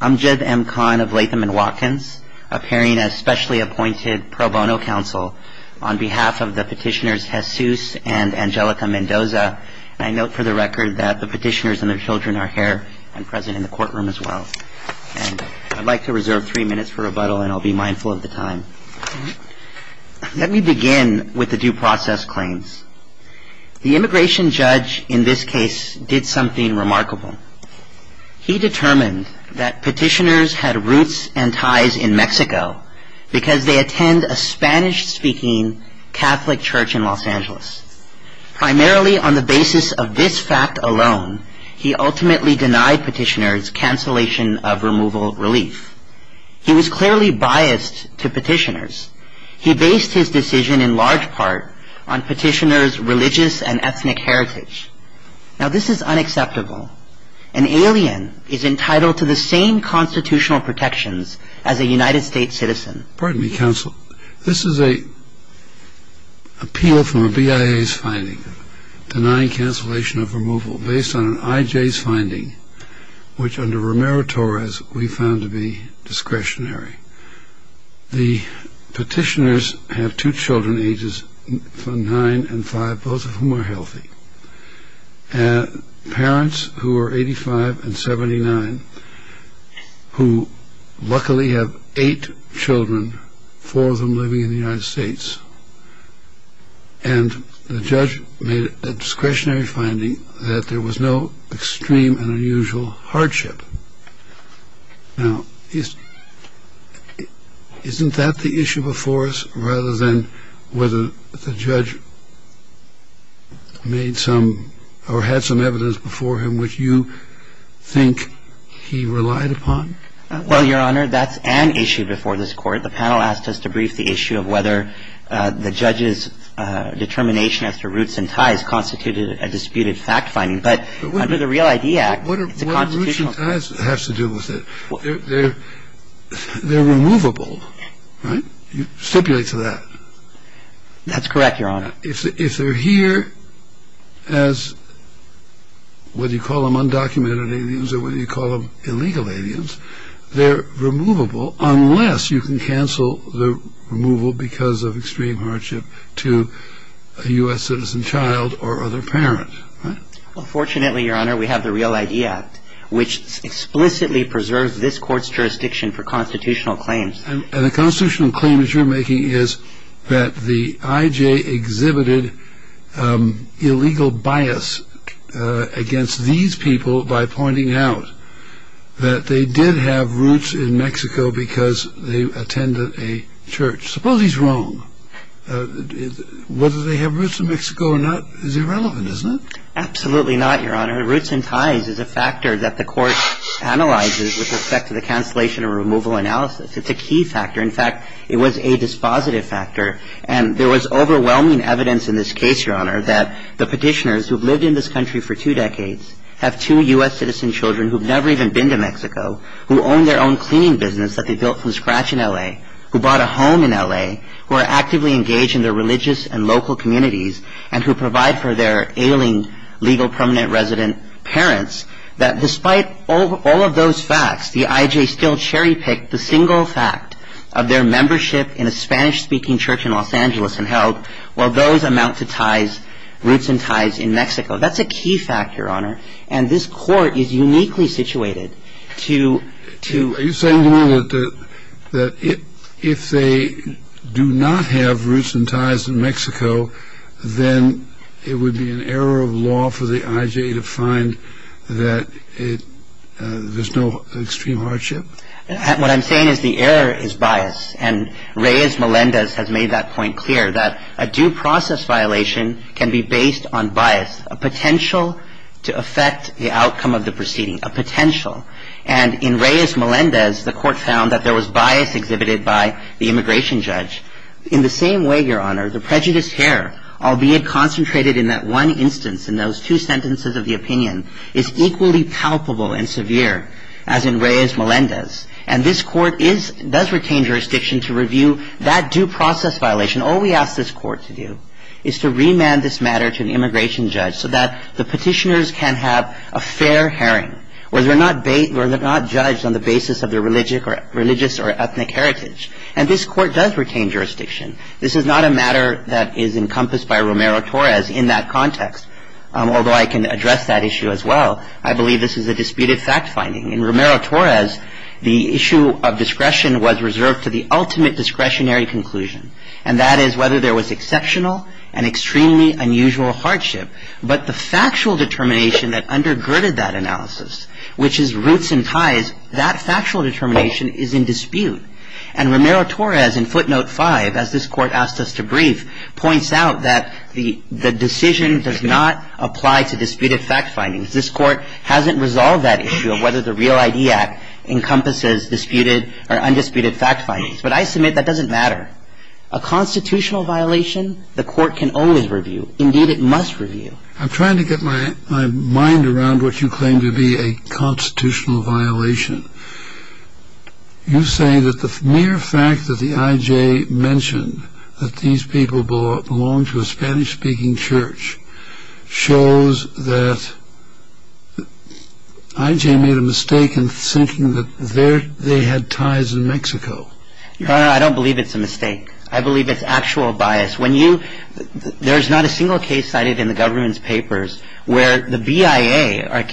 I'm Jed M. Kahn of Latham & Watkins, appearing as specially appointed pro bono counsel on behalf of the petitioners Jesus and Angelica Mendoza. I note for the record that the petitioners and their children are here and present in the courtroom as well. I'd like to reserve three minutes for rebuttal and I'll be mindful of the time. Let me begin with the due process claims. The immigration judge in this case did something remarkable. He determined that petitioners had roots and ties in Mexico because they attend a Spanish-speaking Catholic church in Los Angeles. Primarily on the basis of this fact alone, he ultimately denied petitioners cancellation of removal relief. He was clearly biased to petitioners. He based his decision in large part on petitioners' religious and ethnic heritage. Now this is unacceptable. An alien is entitled to the same constitutional protections as a United States citizen. Pardon me, counsel. This is an appeal from a BIA's finding, denying cancellation of removal, based on an IJ's finding, which under Romero-Torres we found to be discretionary. The petitioners have two children ages nine and five, both of whom are healthy. Parents who are 85 and 79, who luckily have eight children, four of them living in the United States, and the judge made a discretionary finding that there was no extreme and unusual hardship. Now, isn't that the issue before us, rather than whether the judge made some or had some evidence before him which you think he relied upon? Well, Your Honor, that's an issue before this Court. The panel asked us to brief the issue of whether the judge's determination as to roots and ties constituted a disputed fact finding. But under the Real ID Act, it's a constitutional fact. What do roots and ties have to do with it? They're removable, right? You stipulate to that. That's correct, Your Honor. If they're here as, whether you call them undocumented aliens or whether you call them illegal aliens, they're removable unless you can cancel the removal because of extreme hardship to a U.S. citizen child or other parent. Well, fortunately, Your Honor, we have the Real ID Act, which explicitly preserves this Court's jurisdiction for constitutional claims. And the constitutional claim that you're making is that the IJ exhibited illegal bias against these people by pointing out that they did have roots in Mexico because they attended a church. Suppose he's wrong. Whether they have roots in Mexico or not is irrelevant, isn't it? Absolutely not, Your Honor. Roots and ties is a factor that the Court analyzes with respect to the cancellation or removal analysis. It's a key factor. In fact, it was a dispositive factor. And there was overwhelming evidence in this case, Your Honor, that the petitioners who've lived in this country for two decades have two U.S. citizen children who've never even been to Mexico, who own their own cleaning business that they built from scratch in L.A., who bought a home in L.A., who are actively engaged in their religious and local communities, and who provide for their ailing legal permanent resident parents, that despite all of those facts, the IJ still cherry-picked the single fact of their membership in a Spanish-speaking church in Los Angeles and held, well, those amount to ties, roots and ties in Mexico. That's a key factor, Your Honor. And this Court is uniquely situated to... Are you saying to me that if they do not have roots and ties in Mexico, then it would be an error of law for the IJ to find that there's no extreme hardship? What I'm saying is the error is bias. And Reyes-Melendez has made that point clear, that a due process violation can be based on bias, a potential to affect the outcome of the proceeding, a potential. And in Reyes-Melendez, the Court found that there was bias exhibited by the immigration judge. In the same way, Your Honor, the prejudice here, albeit concentrated in that one instance, in those two sentences of the opinion, is equally palpable and severe as in Reyes-Melendez. And this Court does retain jurisdiction to review that due process violation. All we ask this Court to do is to remand this matter to an immigration judge so that the petitioners can have a fair hearing, where they're not judged on the basis of their religious or ethnic heritage. And this Court does retain jurisdiction. This is not a matter that is encompassed by Romero-Torres in that context, although I can address that issue as well. I believe this is a disputed fact finding. In Romero-Torres, the issue of discretion was reserved to the ultimate discretionary conclusion, and that is whether there was exceptional and extremely unusual hardship. But the factual determination that undergirded that analysis, which is roots and ties, that factual determination is in dispute. And Romero-Torres, in footnote 5, as this Court asked us to brief, points out that the decision does not apply to disputed fact findings. This Court hasn't resolved that issue of whether the Real ID Act encompasses disputed or undisputed fact findings. But I submit that doesn't matter. A constitutional violation, the Court can always review. Indeed, it must review. I'm trying to get my mind around what you claim to be a constitutional violation. You say that the mere fact that the IJ mentioned that these people belong to a Spanish-speaking church shows that IJ made a mistake in thinking that they had ties in Mexico. Your Honor, I don't believe it's a mistake. I believe it's actual bias. There's not a single case cited in the government's papers where the BIA or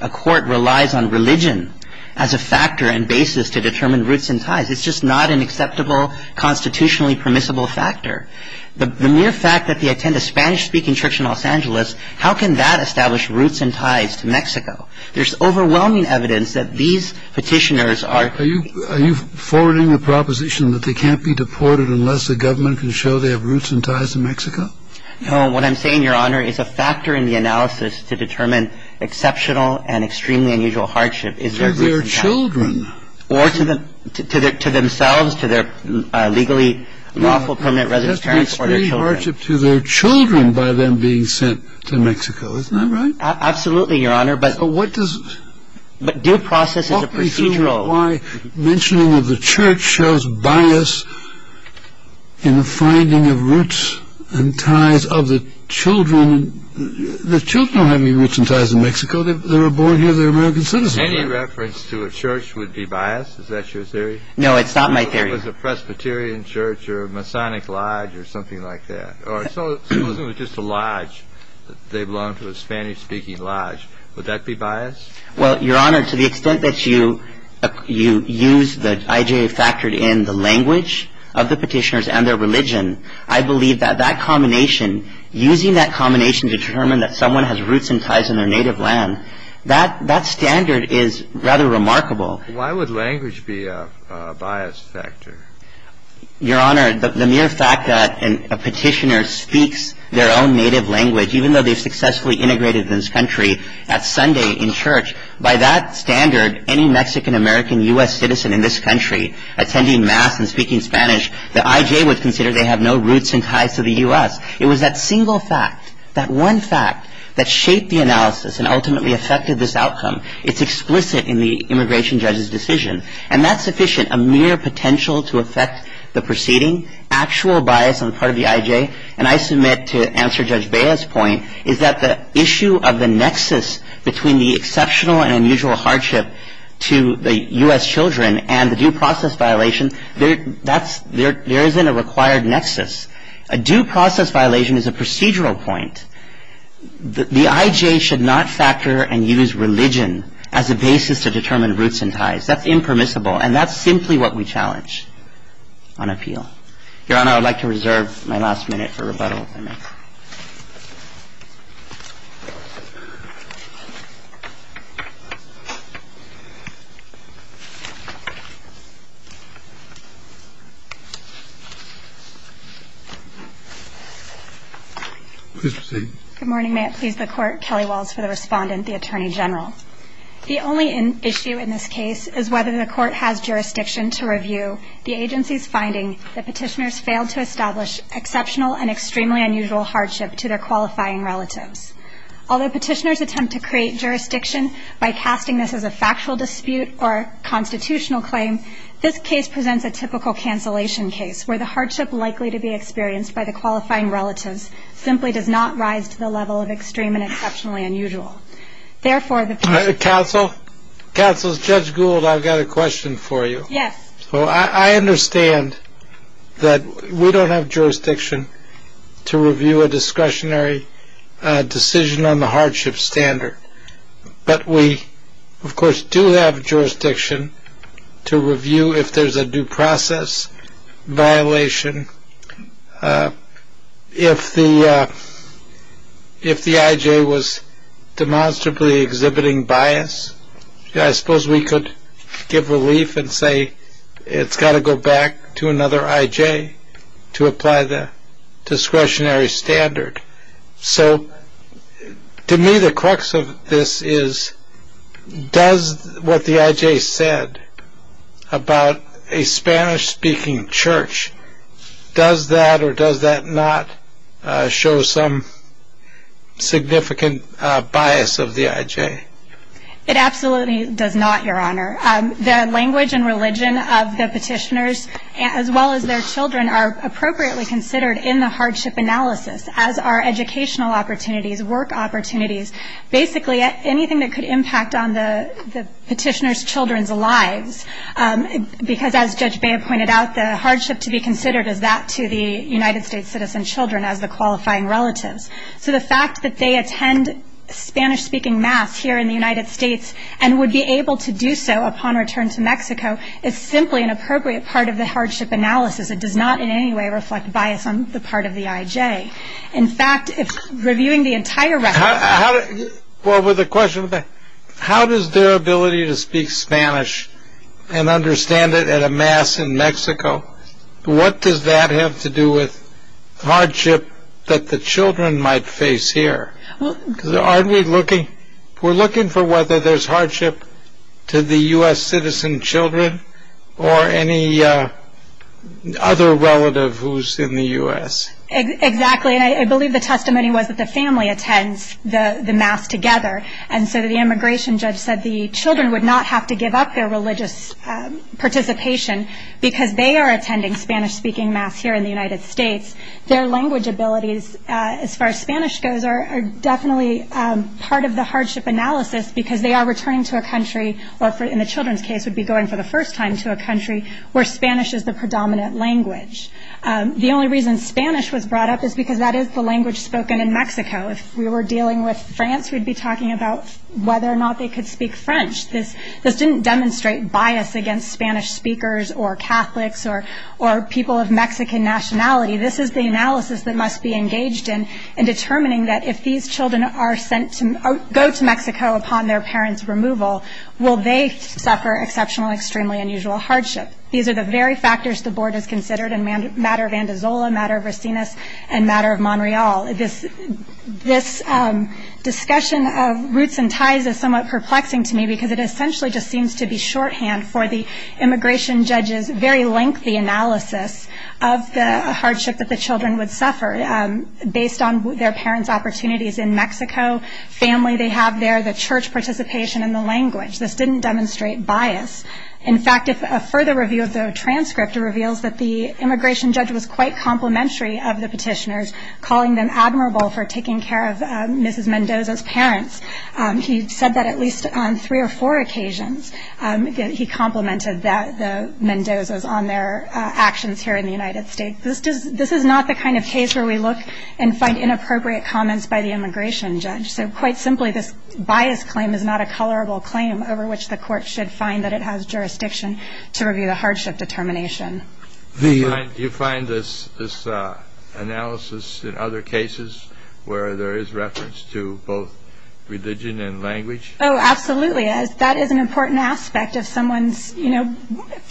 a court relies on religion as a factor and basis to determine roots and ties. It's just not an acceptable constitutionally permissible factor. The mere fact that they attend a Spanish-speaking church in Los Angeles, how can that establish roots and ties to Mexico? There's overwhelming evidence that these Petitioners are – Are you forwarding the proposition that they can't be deported unless the government can show they have roots and ties to Mexico? No. What I'm saying, Your Honor, is a factor in the analysis to determine exceptional and extremely unusual hardship is their roots and ties. To their children. Or to themselves, to their legally lawful permanent residence. That means free hardship to their children by them being sent to Mexico. Isn't that right? Absolutely, Your Honor. But what does – But due process is a procedural – Talk me through why mentioning of the church shows bias in the finding of roots and ties of the children. The children don't have any roots and ties in Mexico. They were born here. They're American citizens. Any reference to a church would be bias. Is that your theory? No, it's not my theory. Suppose it was a Presbyterian church or a Masonic lodge or something like that. Or suppose it was just a lodge. They belong to a Spanish-speaking lodge. Would that be bias? Well, Your Honor, to the extent that you use the – I.J. factored in the language of the Petitioners and their religion, I believe that that combination – using that combination to determine that someone has roots and ties in their native land, that standard is rather remarkable. Why would language be a bias factor? Your Honor, the mere fact that a Petitioner speaks their own native language, even though they've successfully integrated into this country at Sunday in church, by that standard, any Mexican-American U.S. citizen in this country attending mass and speaking Spanish, the I.J. would consider they have no roots and ties to the U.S. It was that single fact, that one fact, that shaped the analysis and ultimately affected this outcome. It's explicit in the immigration judge's decision. And that's sufficient. A mere potential to affect the proceeding, actual bias on the part of the I.J., and I submit to answer Judge Bea's point, is that the issue of the nexus between the exceptional and unusual hardship to the U.S. children and the due process violation, there isn't a required nexus. A due process violation is a procedural point. The I.J. should not factor and use religion as a basis to determine roots and ties. That's impermissible. And that's simply what we challenge on appeal. Your Honor, I would like to reserve my last minute for rebuttal, if I may. Please proceed. Good morning. May it please the Court, Kelly Walls for the Respondent, the Attorney General. The only issue in this case is whether the Court has jurisdiction to review the agency's finding that petitioners failed to establish exceptional and extremely unusual hardship to their qualifying relatives. Although petitioners attempt to create jurisdiction by casting this as a factual dispute or constitutional claim, this case presents a typical cancellation case, where the hardship likely to be experienced by the qualifying relatives simply does not rise to the level of extreme and exceptionally unusual. Therefore, the petitioner... Counsel? Counsel, Judge Gould, I've got a question for you. Yes. So I understand that we don't have jurisdiction to review a discretionary decision on the hardship standard. But we, of course, do have jurisdiction to review if there's a due process violation, if the I.J. was demonstrably exhibiting bias. I suppose we could give relief and say it's got to go back to another I.J. to apply the discretionary standard. So to me, the crux of this is, does what the I.J. said about a Spanish-speaking church, does that or does that not show some significant bias of the I.J.? It absolutely does not, Your Honor. The language and religion of the petitioners, as well as their children, are appropriately considered in the hardship analysis, as are educational opportunities, work opportunities, basically anything that could impact on the petitioner's children's lives, because as Judge Bea pointed out, the hardship to be considered is that to the United States citizen children as the qualifying relatives. So the fact that they attend Spanish-speaking mass here in the United States and would be able to do so upon return to Mexico is simply an appropriate part of the hardship analysis. It does not in any way reflect bias on the part of the I.J. In fact, if reviewing the entire record... Well, with a question, how does their ability to speak Spanish and understand it at a mass in Mexico, what does that have to do with hardship that the children might face here? Aren't we looking... We're looking for whether there's hardship to the U.S. citizen children or any other relative who's in the U.S.? Exactly, and I believe the testimony was that the family attends the mass together, and so the immigration judge said the children would not have to give up their religious participation because they are attending Spanish-speaking mass here in the United States. Their language abilities, as far as Spanish goes, are definitely part of the hardship analysis because they are returning to a country or, in the children's case, would be going for the first time to a country where Spanish is the predominant language. The only reason Spanish was brought up is because that is the language spoken in Mexico. If we were dealing with France, we'd be talking about whether or not they could speak French. This didn't demonstrate bias against Spanish speakers or Catholics or people of Mexican nationality. This is the analysis that must be engaged in, in determining that if these children go to Mexico upon their parents' removal, will they suffer exceptional, extremely unusual hardship? These are the very factors the board has considered in the matter of Andazola, the matter of Racinas, and the matter of Montreal. This discussion of roots and ties is somewhat perplexing to me because it essentially just seems to be shorthand for the immigration judge's very lengthy analysis of the hardship that the children would suffer based on their parents' opportunities in Mexico, family they have there, the church participation, and the language. This didn't demonstrate bias. In fact, a further review of the transcript reveals that the immigration judge was quite complimentary of the petitioners, calling them admirable for taking care of Mrs. Mendoza's parents. He said that at least on three or four occasions he complimented the Mendozas on their actions here in the United States. This is not the kind of case where we look and find inappropriate comments by the immigration judge. So quite simply, this bias claim is not a colorable claim over which the court should find that it has jurisdiction to review the hardship determination. Do you find this analysis in other cases where there is reference to both religion and language? Oh, absolutely. That is an important aspect of someone's, you know,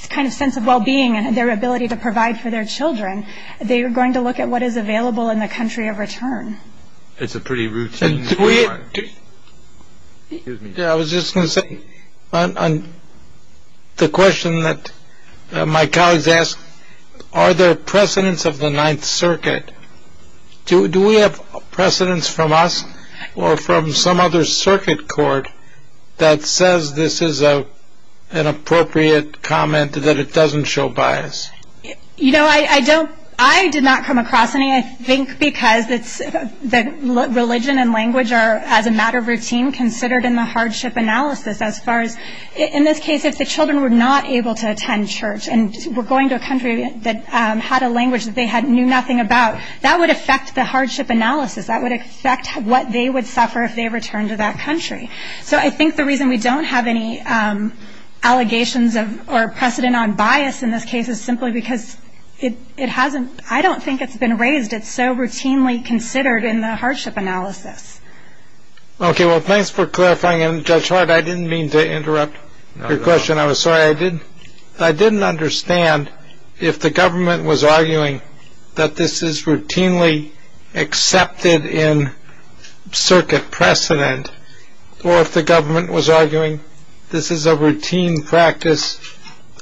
kind of sense of well-being and their ability to provide for their children. They are going to look at what is available in the country of return. It's a pretty routine. I was just going to say on the question that my colleagues ask, are there precedents of the Ninth Circuit? Do we have precedents from us or from some other circuit court that says this is an appropriate comment that it doesn't show bias? You know, I don't, I did not come across any. I think because religion and language are, as a matter of routine, considered in the hardship analysis. As far as, in this case, if the children were not able to attend church and were going to a country that had a language that they knew nothing about, that would affect the hardship analysis. That would affect what they would suffer if they returned to that country. So I think the reason we don't have any allegations or precedent on bias in this case is simply because it hasn't, I don't think it's been raised. It's so routinely considered in the hardship analysis. Okay, well, thanks for clarifying. And Judge Hart, I didn't mean to interrupt your question. I was sorry. I didn't understand if the government was arguing that this is routinely accepted in circuit precedent, or if the government was arguing this is a routine practice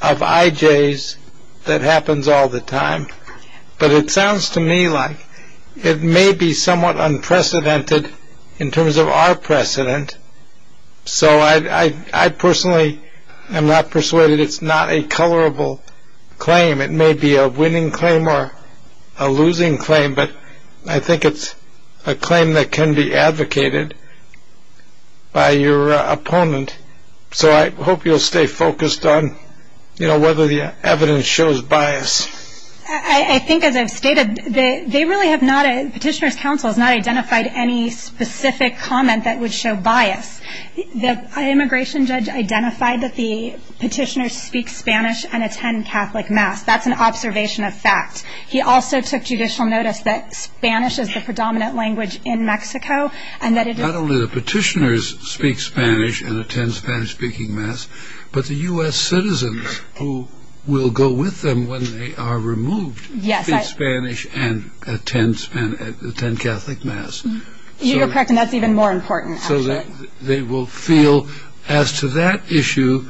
of IJs that happens all the time. But it sounds to me like it may be somewhat unprecedented in terms of our precedent. So I personally am not persuaded it's not a colorable claim. It may be a winning claim or a losing claim, but I think it's a claim that can be advocated by your opponent. So I hope you'll stay focused on, you know, whether the evidence shows bias. I think as I've stated, they really have not, Petitioner's counsel has not identified any specific comment that would show bias. The immigration judge identified that the petitioners speak Spanish and attend Catholic mass. That's an observation of fact. He also took judicial notice that Spanish is the predominant language in Mexico and that it is. Not only the petitioners speak Spanish and attend Spanish-speaking mass, but the U.S. citizens who will go with them when they are removed speak Spanish and attend Catholic mass. You're correct, and that's even more important. So they will feel, as to that issue,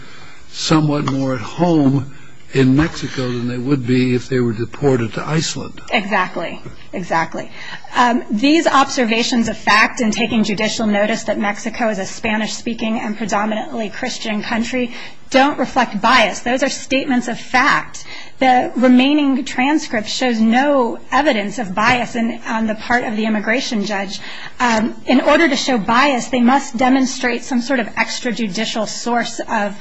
somewhat more at home in Mexico than they would be if they were deported to Iceland. Exactly, exactly. These observations of fact in taking judicial notice that Mexico is a Spanish-speaking and predominantly Christian country don't reflect bias. Those are statements of fact. The remaining transcript shows no evidence of bias on the part of the immigration judge. In order to show bias, they must demonstrate some sort of extrajudicial source of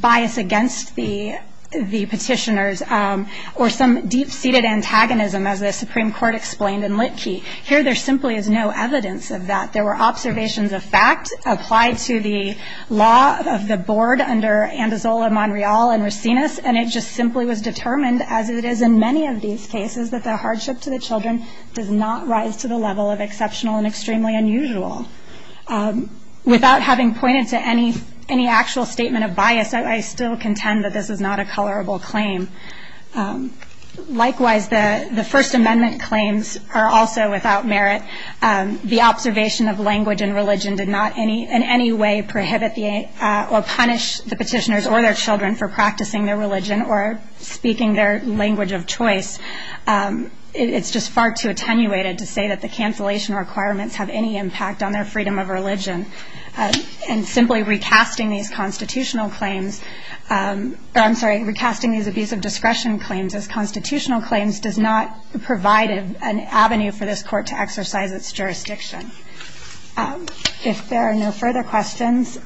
bias against the petitioners or some deep-seated antagonism, as the Supreme Court explained in Litkey. Here, there simply is no evidence of that. There were observations of fact applied to the law of the board under Andazola, Monreal, and Racines, and it just simply was determined, as it is in many of these cases, that the hardship to the children does not rise to the level of exceptional and extremely unusual. Without having pointed to any actual statement of bias, I still contend that this is not a colorable claim. Likewise, the First Amendment claims are also without merit. The observation of language and religion did not in any way prohibit or punish the petitioners or their children for practicing their religion or speaking their language of choice. It's just far too attenuated to say that the cancellation requirements have any impact on their freedom of religion. And simply recasting these constitutional claims or, I'm sorry, recasting these abuse of discretion claims as constitutional claims does not provide an avenue for this court to exercise its jurisdiction. If there are no further questions,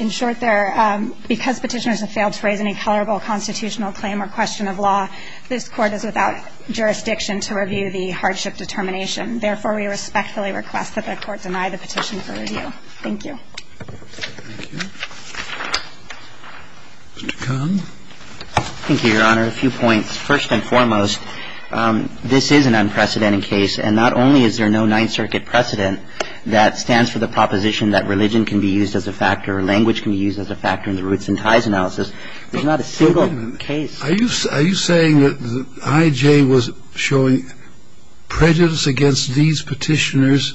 in short, because petitioners have failed to raise any colorable constitutional claim or question of law, this Court is without jurisdiction to review the hardship determination. Therefore, we respectfully request that the Court deny the petition for review. Thank you. Thank you. Mr. Kahn? Thank you, Your Honor. A few points. First and foremost, this is an unprecedented case, and not only is there no Ninth Circuit precedent that stands for the proposition that religion can be used as a factor or language can be used as a factor in the roots and ties analysis. There's not a single case. Are you saying that I.J. was showing prejudice against these petitioners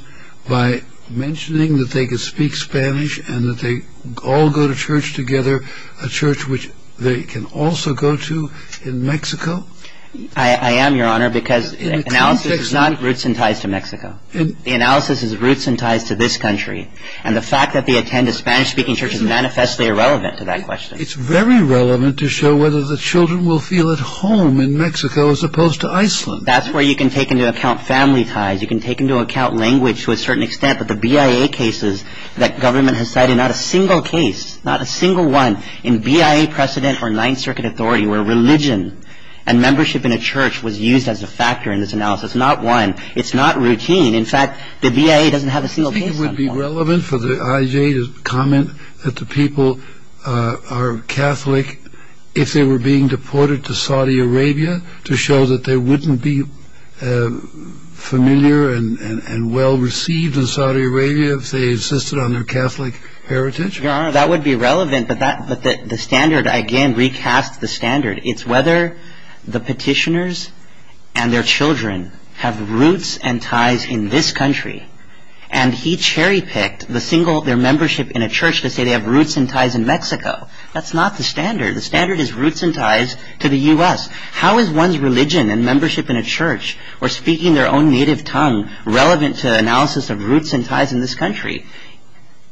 by mentioning that they could speak Spanish and that they all go to church together, a church which they can also go to in Mexico? I am, Your Honor, because analysis is not roots and ties to Mexico. The analysis is roots and ties to this country, and the fact that they attend a Spanish-speaking church is manifestly irrelevant to that question. It's very relevant to show whether the children will feel at home in Mexico as opposed to Iceland. That's where you can take into account family ties. You can take into account language to a certain extent, but the BIA cases that government has cited, not a single case, not a single one in BIA precedent or Ninth Circuit authority It's not one. It's not routine. In fact, the BIA doesn't have a single case on that. Do you think it would be relevant for the I.J. to comment that the people are Catholic if they were being deported to Saudi Arabia to show that they wouldn't be familiar and well-received in Saudi Arabia if they insisted on their Catholic heritage? Your Honor, that would be relevant, but the standard, again, recasts the standard. It's whether the petitioners and their children have roots and ties in this country, and he cherry-picked their membership in a church to say they have roots and ties in Mexico. That's not the standard. The standard is roots and ties to the U.S. How is one's religion and membership in a church or speaking their own native tongue relevant to analysis of roots and ties in this country?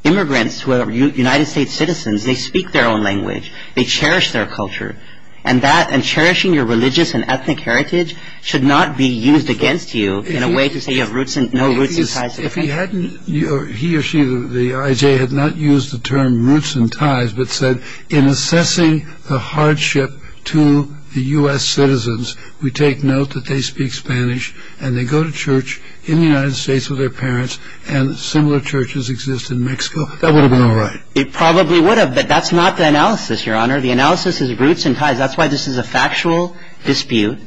Immigrants who are United States citizens, they speak their own language. They cherish their culture. And cherishing your religious and ethnic heritage should not be used against you in a way to say you have no roots and ties in this country. He or she, the I.J., had not used the term roots and ties, but said in assessing the hardship to the U.S. citizens, we take note that they speak Spanish and they go to church in the United States with their parents, and similar churches exist in Mexico. That would have been all right. It probably would have, but that's not the analysis, Your Honor. The analysis is roots and ties. That's why this is a factual dispute,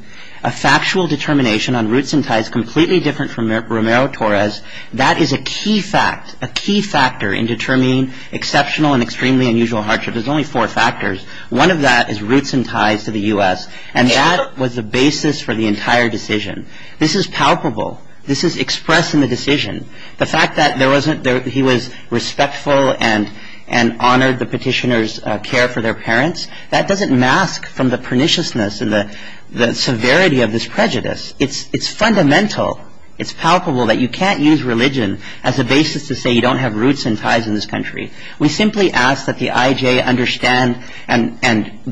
a factual determination on roots and ties, completely different from Romero-Torres. That is a key fact, a key factor in determining exceptional and extremely unusual hardship. There's only four factors. One of that is roots and ties to the U.S., and that was the basis for the entire decision. This is palpable. This is expressed in the decision. The fact that he was respectful and honored the petitioner's care for their parents, that doesn't mask from the perniciousness and the severity of this prejudice. It's fundamental. It's palpable that you can't use religion as a basis to say you don't have roots and ties in this country. We simply ask that the I.J. understand and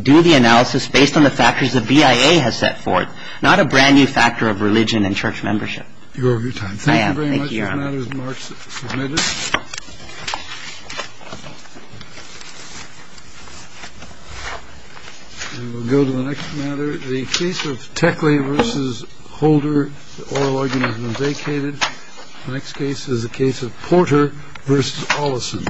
do the analysis based on the factors the BIA has set forth, not a brand-new factor of religion and church membership. You're out of your time. Thank you very much. This matter is marked as submitted. We'll go to the next matter. The case of Techley v. Holder, the oral organism vacated. The next case is the case of Porter v. Ollison.